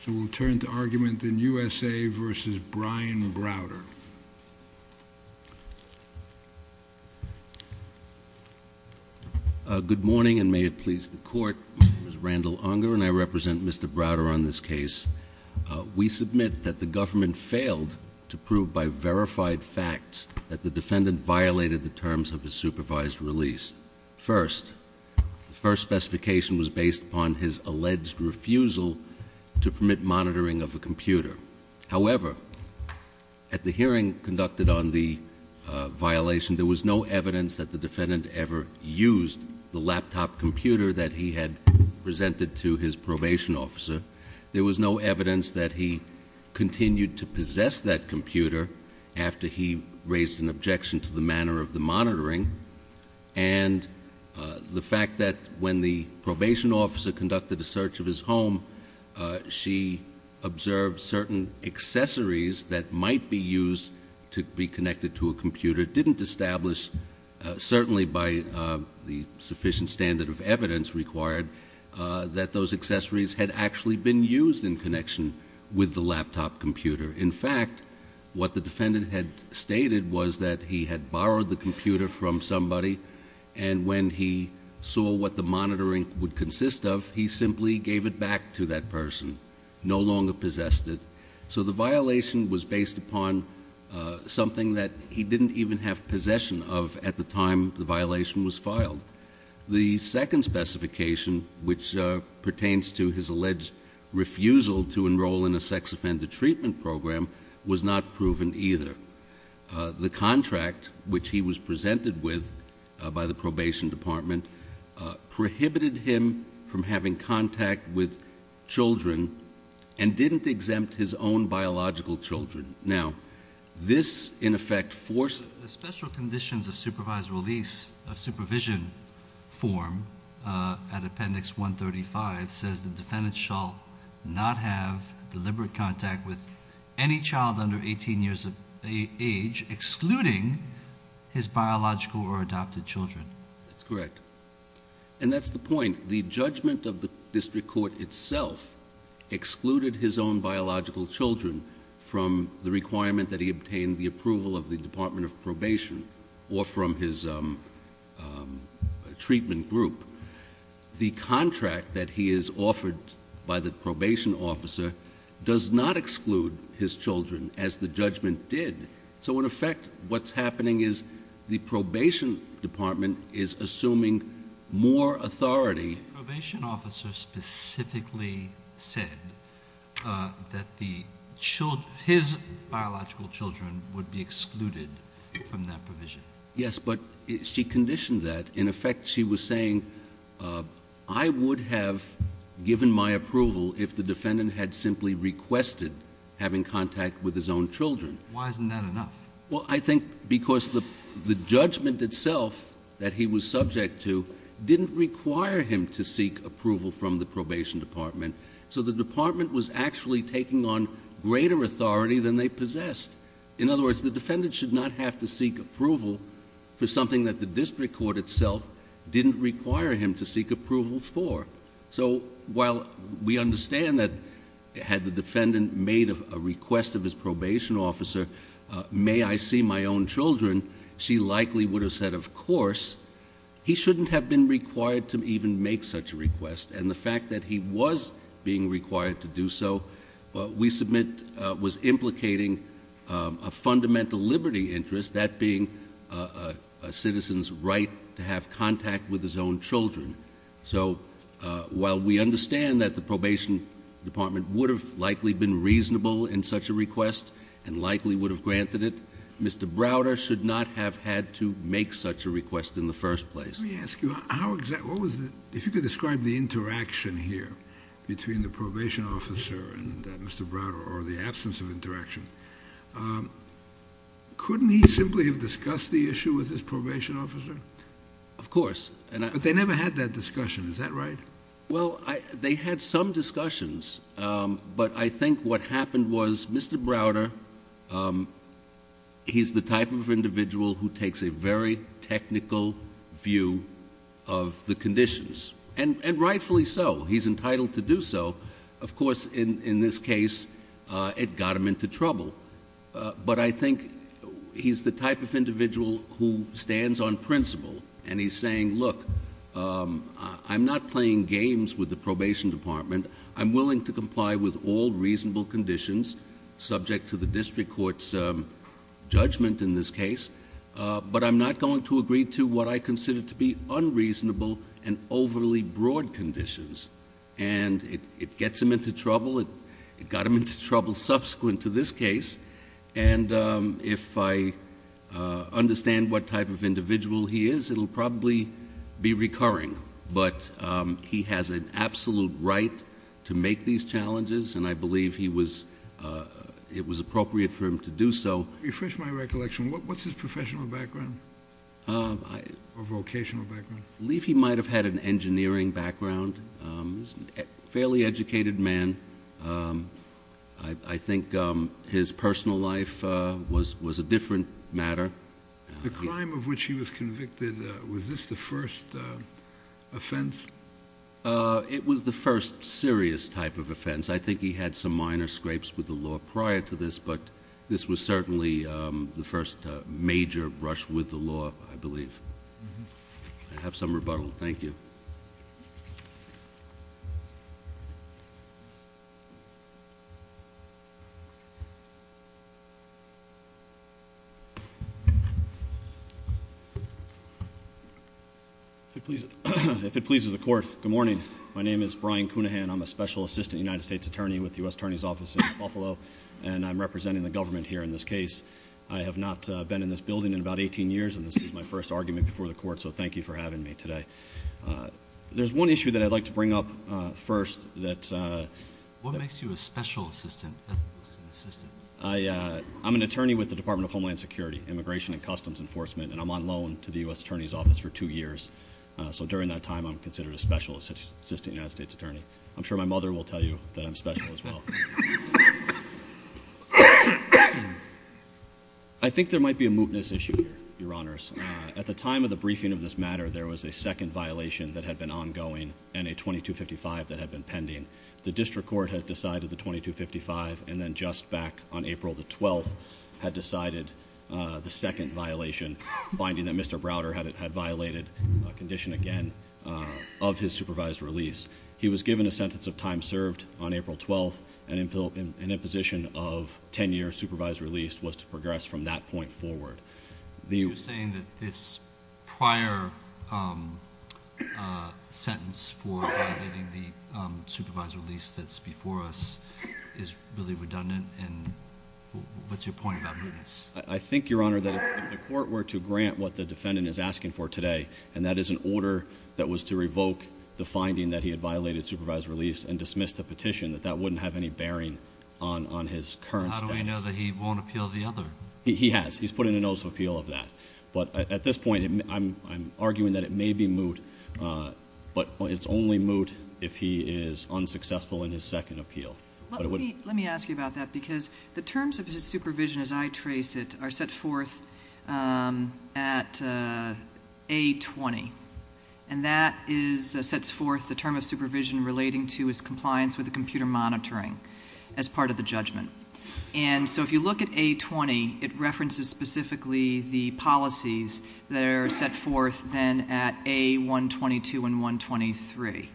So we'll turn to argument in U.S.A. v. Brian Browder. Good morning, and may it please the Court. My name is Randall Unger, and I represent Mr. Browder on this case. We submit that the government failed to prove by verified facts that the defendant violated the terms of his supervised release. First, the first specification was based upon his alleged refusal to permit monitoring of a computer. However, at the hearing conducted on the violation, there was no evidence that the defendant ever used the laptop computer that he had presented to his probation officer. There was no evidence that he continued to possess that computer after he raised an objection to the manner of the monitoring. And the fact that when the probation officer conducted a search of his home, she observed certain accessories that might be used to be connected to a computer didn't establish, certainly by the sufficient standard of evidence required, that those accessories had actually been used in connection with the laptop computer. In fact, what the defendant had stated was that he had borrowed the computer from somebody, and when he saw what the monitoring would consist of, he simply gave it back to that person, no longer possessed it. So the violation was based upon something that he didn't even have possession of at the time the violation was filed. The second specification, which pertains to his alleged refusal to enroll in a sex-offended treatment program, was not proven either. The contract, which he was presented with by the probation department, prohibited him from having contact with children, and didn't exempt his own biological children. Now, this, in effect, forces... The special conditions of supervised release, of supervision form, at Appendix 135, says the defendant shall not have deliberate contact with any child under 18 years of age, excluding his biological or adopted children. That's correct. And that's the point. The judgment of the district court itself excluded his own biological children from the requirement that he obtain the approval of the Department of Probation, or from his treatment group. The contract that he is offered by the probation officer does not exclude his children, as the judgment did. So, in effect, what's happening is the probation department is assuming more authority... The probation officer specifically said that his biological children would be excluded from that provision. Yes, but she conditioned that. In effect, she was saying, I would have given my approval if the defendant had simply requested having contact with his own children. Why isn't that enough? Well, I think because the judgment itself that he was subject to didn't require him to seek approval from the probation department. So the department was actually taking on greater authority than they possessed. In other words, the defendant should not have to seek approval for something that the district court itself didn't require him to seek approval for. So, while we understand that had the defendant made a request of his probation officer, may I see my own children, she likely would have said, of course. He shouldn't have been required to even make such a request, and the fact that he was being required to do so, we submit, was implicating a fundamental liberty interest, that being a citizen's right to have contact with his own children. So, while we understand that the probation department would have likely been reasonable in such a request and likely would have granted it, Mr. Browder should not have had to make such a request in the first place. Let me ask you, if you could describe the interaction here between the probation officer and Mr. Browder, or the absence of interaction. Couldn't he simply have discussed the issue with his probation officer? Of course. But they never had that discussion, is that right? Well, they had some discussions, but I think what happened was Mr. Browder, he's the type of individual who takes a very technical view of the conditions, and rightfully so, he's entitled to do so. Of course, in this case, it got him into trouble, but I think he's the type of individual who stands on principle and he's saying, look, I'm not playing games with the probation department. I'm willing to comply with all reasonable conditions, subject to the district court's judgment in this case, but I'm not going to agree to what I consider to be unreasonable and overly broad conditions. And it gets him into trouble, it got him into trouble subsequent to this case, and if I understand what type of individual he is, it will probably be recurring, but he has an absolute right to make these challenges, and I believe it was appropriate for him to do so. Refresh my recollection, what's his professional background or vocational background? I believe he might have had an engineering background. He's a fairly educated man. I think his personal life was a different matter. The crime of which he was convicted, was this the first offense? It was the first serious type of offense. I think he had some minor scrapes with the law prior to this, but this was certainly the first major rush with the law, I believe. I have some rebuttal. Thank you. If it pleases the court, good morning. My name is Brian Cunahan. I'm a special assistant United States attorney with the U.S. Attorney's Office in Buffalo, and I'm representing the government here in this case. I have not been in this building in about 18 years, and this is my first argument before the court, so thank you for having me today. There's one issue that I'd like to bring up first. What makes you a special assistant? I'm an attorney with the Department of Homeland Security, Immigration and Customs Enforcement, and I'm on loan to the U.S. Attorney's Office for two years, so during that time I'm considered a special assistant United States attorney. I'm sure my mother will tell you that I'm special as well. I think there might be a mootness issue here, Your Honors. At the time of the briefing of this matter, there was a second violation that had been ongoing and a 2255 that had been pending. The district court had decided the 2255, and then just back on April the 12th had decided the second violation, finding that Mr. Browder had violated a condition again of his supervised release. He was given a sentence of time served on April 12th, and an imposition of 10 years supervised release was to progress from that point forward. You're saying that this prior sentence for violating the supervised release that's before us is really redundant, and what's your point about mootness? I think, Your Honor, that if the court were to grant what the defendant is asking for today, and that is an order that was to revoke the finding that he had violated supervised release and dismiss the petition, that that wouldn't have any bearing on his current status. How do we know that he won't appeal the other? He has. He's put in a notice of appeal of that. But at this point, I'm arguing that it may be moot, but it's only moot if he is unsuccessful in his second appeal. Let me ask you about that because the terms of his supervision as I trace it are set forth at A20, and that sets forth the term of supervision relating to his compliance with the computer monitoring as part of the judgment. And so if you look at A20, it references specifically the policies that are set forth then at A122 and 123.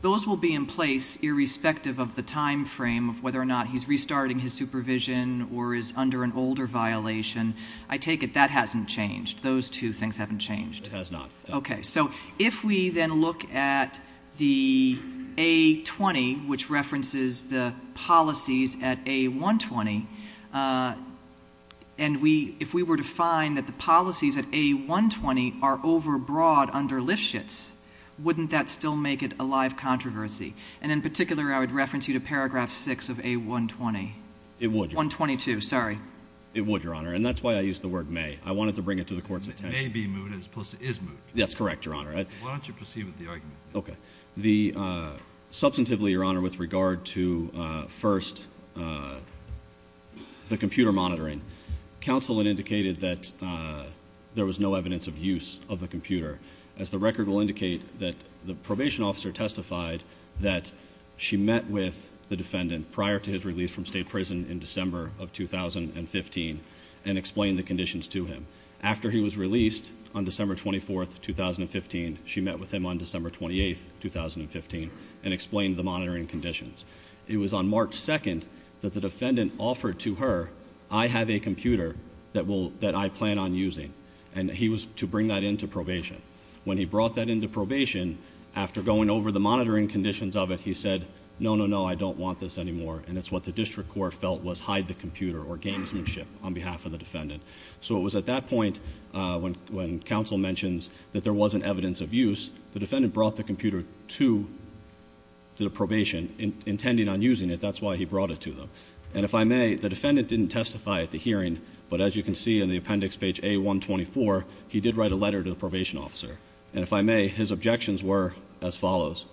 Those will be in place irrespective of the time frame of whether or not he's restarting his supervision or is under an older violation. I take it that hasn't changed. Those two things haven't changed. It has not. Okay. So if we then look at the A20, which references the policies at A120, and if we were to find that the policies at A120 are overbroad under Lifshitz, wouldn't that still make it a live controversy? And in particular, I would reference you to Paragraph 6 of A120. It would. 122, sorry. It would, Your Honor, and that's why I used the word may. I wanted to bring it to the Court's attention. It may be moot as opposed to is moot. That's correct, Your Honor. Why don't you proceed with the argument? Okay. Substantively, Your Honor, with regard to first the computer monitoring, counsel had indicated that there was no evidence of use of the computer. As the record will indicate, the probation officer testified that she met with the defendant prior to his release from state prison in December of 2015 and explained the conditions to him. After he was released on December 24th, 2015, she met with him on December 28th, 2015, and explained the monitoring conditions. It was on March 2nd that the defendant offered to her, I have a computer that I plan on using, and he was to bring that into probation. When he brought that into probation, after going over the monitoring conditions of it, he said, no, no, no, I don't want this anymore, and it's what the district court felt was hide the computer or gamesmanship on behalf of the defendant. So it was at that point when counsel mentions that there wasn't evidence of use, the defendant brought the computer to the probation intending on using it. That's why he brought it to them. And if I may, the defendant didn't testify at the hearing, but as you can see in the appendix page A124, he did write a letter to the probation officer. And if I may, his objections were as follows.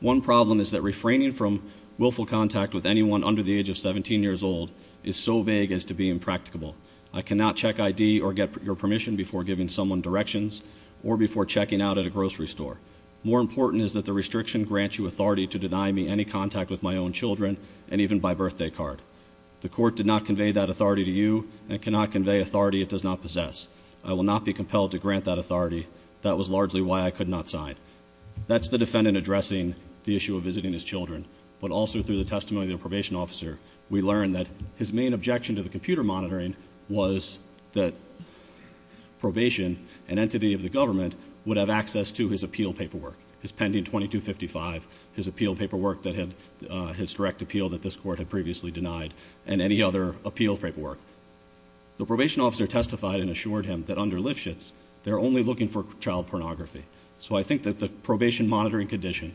One problem is that refraining from willful contact with anyone under the age of 17 years old is so vague as to be impracticable. I cannot check ID or get your permission before giving someone directions or before checking out at a grocery store. More important is that the restriction grants you authority to deny me any contact with my own children and even my birthday card. The court did not convey that authority to you and cannot convey authority it does not possess. I will not be compelled to grant that authority. That was largely why I could not sign. That's the defendant addressing the issue of visiting his children, but also through the testimony of the probation officer, we learned that his main objection to the computer monitoring was that probation, an entity of the government, would have access to his appeal paperwork, his pending 2255, his appeal paperwork that had his direct appeal that this court had previously denied, and any other appeal paperwork. The probation officer testified and assured him that under Lifshitz, they're only looking for child pornography. So I think that the probation monitoring condition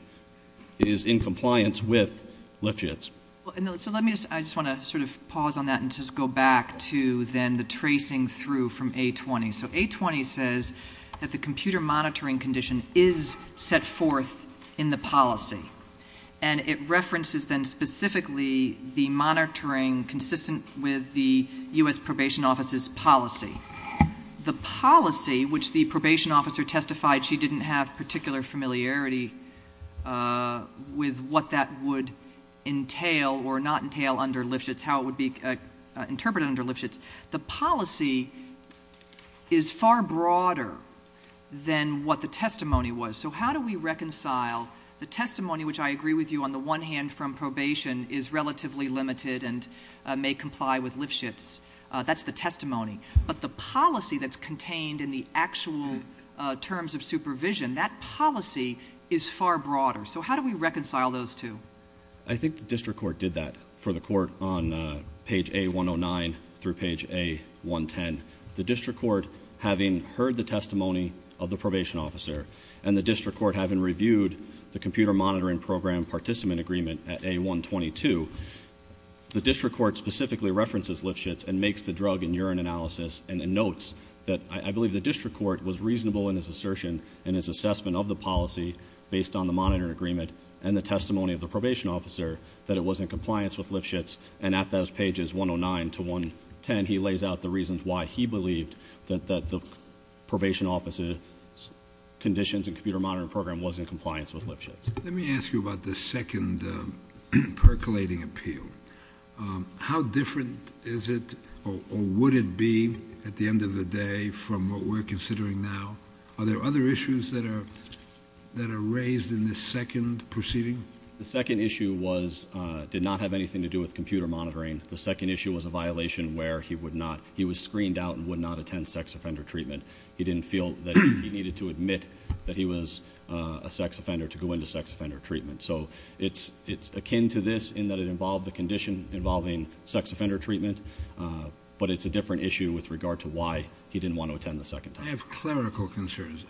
is in compliance with Lifshitz. I just want to sort of pause on that and just go back to then the tracing through from A-20. So A-20 says that the computer monitoring condition is set forth in the policy, and it references then specifically the monitoring consistent with the U.S. probation officer's policy. The policy, which the probation officer testified she didn't have particular familiarity with what that would entail or not entail under Lifshitz, how it would be interpreted under Lifshitz, the policy is far broader than what the testimony was. So how do we reconcile the testimony, which I agree with you, on the one hand from probation is relatively limited and may comply with Lifshitz. That's the testimony. But the policy that's contained in the actual terms of supervision, that policy is far broader. So how do we reconcile those two? I think the district court did that for the court on page A-109 through page A-110. The district court, having heard the testimony of the probation officer and the district court having reviewed the computer monitoring program participant agreement at A-122, the district court specifically references Lifshitz and makes the drug and urine analysis and notes that I believe the district court was reasonable in its assertion and its assessment of the policy based on the monitoring agreement and the testimony of the probation officer that it was in compliance with Lifshitz. And at those pages 109 to 110, he lays out the reasons why he believed that the probation officer's conditions and computer monitoring program was in compliance with Lifshitz. Let me ask you about the second percolating appeal. How different is it or would it be at the end of the day from what we're considering now? Are there other issues that are raised in this second proceeding? The second issue did not have anything to do with computer monitoring. The second issue was a violation where he was screened out and would not attend sex offender treatment. He didn't feel that he needed to admit that he was a sex offender to go into sex offender treatment. So it's akin to this in that it involved the condition involving sex offender treatment, but it's a different issue with regard to why he didn't want to attend the second time. I have clerical concerns.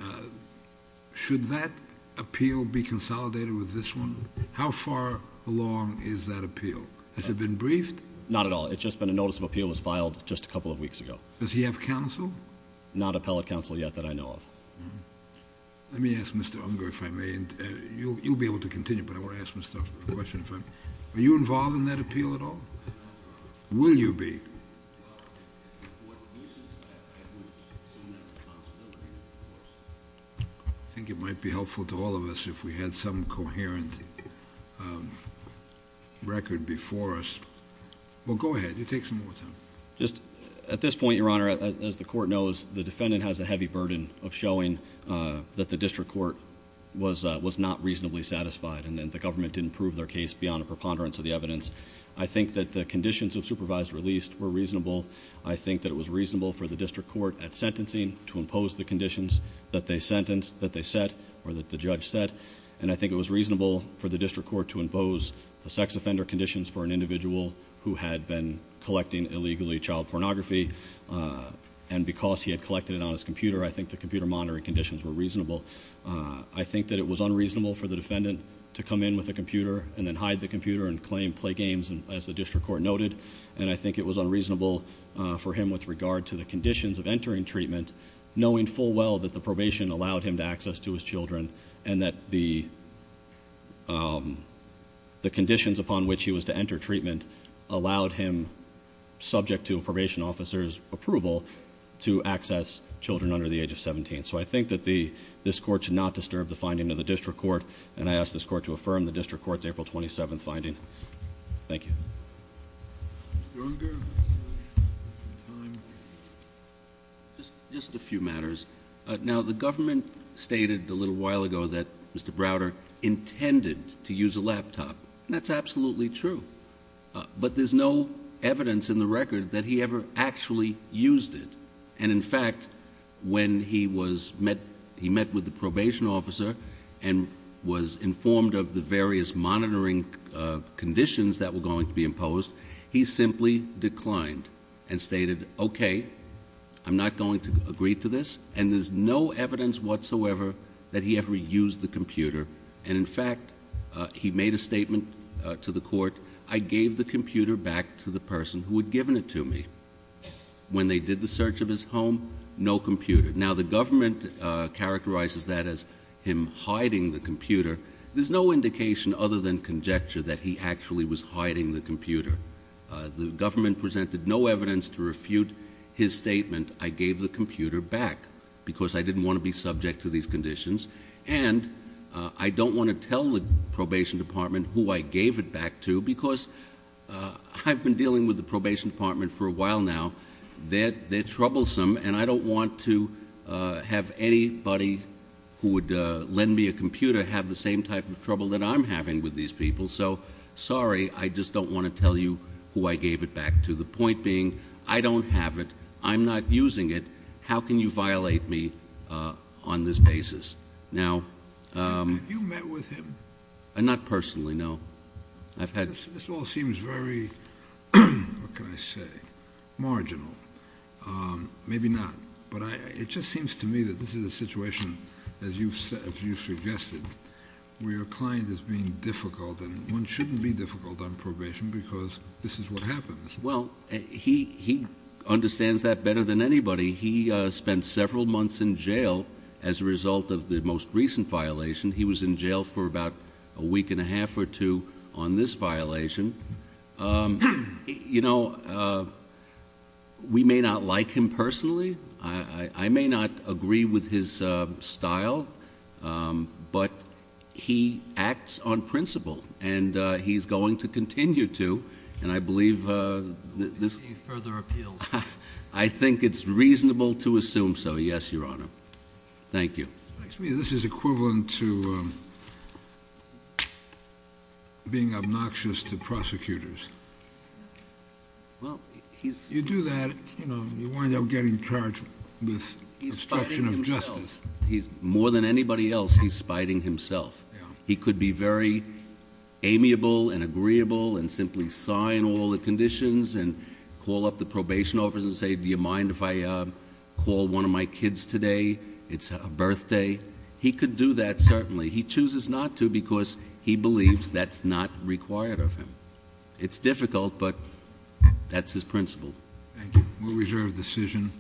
Should that appeal be consolidated with this one? How far along is that appeal? Has it been briefed? Not at all. It's just been a notice of appeal was filed just a couple of weeks ago. Does he have counsel? Not appellate counsel yet that I know of. Let me ask Mr. Unger if I may. You'll be able to continue, but I want to ask Mr. Unger a question. Are you involved in that appeal at all? Will you be? I think it might be helpful to all of us if we had some coherent record before us. Well, go ahead. You take some more time. At this point, Your Honor, as the court knows, the defendant has a heavy burden of showing that the district court was not reasonably satisfied and that the government didn't prove their case beyond a preponderance of the evidence. I think that the conditions of supervised release were reasonable. I think that it was reasonable for the district court at sentencing to impose the conditions that they set or that the judge set, and I think it was reasonable for the district court to impose the sex offender conditions for an individual who had been collecting illegally child pornography, and because he had collected it on his computer, I think the computer monitoring conditions were reasonable. I think that it was unreasonable for the defendant to come in with a computer and then hide the computer and claim play games, as the district court noted, and I think it was unreasonable for him with regard to the conditions of entering treatment, knowing full well that the probation allowed him to access to his children and that the conditions upon which he was to enter treatment allowed him, subject to a probation officer's approval, to access children under the age of 17. So I think that this court should not disturb the finding of the district court, and I ask this court to affirm the district court's April 27 finding. Thank you. Mr. Unger? Just a few matters. Now, the government stated a little while ago that Mr. Browder intended to use a laptop, and that's absolutely true, but there's no evidence in the record that he ever actually used it, and, in fact, when he met with the probation officer and was informed of the various monitoring conditions that were going to be imposed, he simply declined and stated, okay, I'm not going to agree to this, and there's no evidence whatsoever that he ever used the computer, and, in fact, he made a statement to the court, I gave the computer back to the person who had given it to me. When they did the search of his home, no computer. Now, the government characterizes that as him hiding the computer. There's no indication other than conjecture that he actually was hiding the computer. The government presented no evidence to refute his statement, I gave the computer back because I didn't want to be subject to these conditions, and I don't want to tell the probation department who I gave it back to because I've been dealing with the probation department for a while now. They're troublesome, and I don't want to have anybody who would lend me a computer to have the same type of trouble that I'm having with these people. So, sorry, I just don't want to tell you who I gave it back to. The point being, I don't have it, I'm not using it, how can you violate me on this basis? Have you met with him? Not personally, no. Maybe not, but it just seems to me that this is a situation, as you've suggested, where your client is being difficult, and one shouldn't be difficult on probation because this is what happens. Well, he understands that better than anybody. He spent several months in jail as a result of the most recent violation. He was in jail for about a week and a half or two on this violation. You know, we may not like him personally. I may not agree with his style, but he acts on principle, and he's going to continue to. And I believe this is reasonable to assume so, yes, Your Honor. Thank you. To me, this is equivalent to being obnoxious to prosecutors. You do that, you know, you wind up getting charged with obstruction of justice. More than anybody else, he's spiting himself. He could be very amiable and agreeable and simply sign all the conditions and call up the probation office and say, Do you mind if I call one of my kids today? It's a birthday. He could do that, certainly. He chooses not to because he believes that's not required of him. It's difficult, but that's his principle. Thank you. We'll reserve the decision.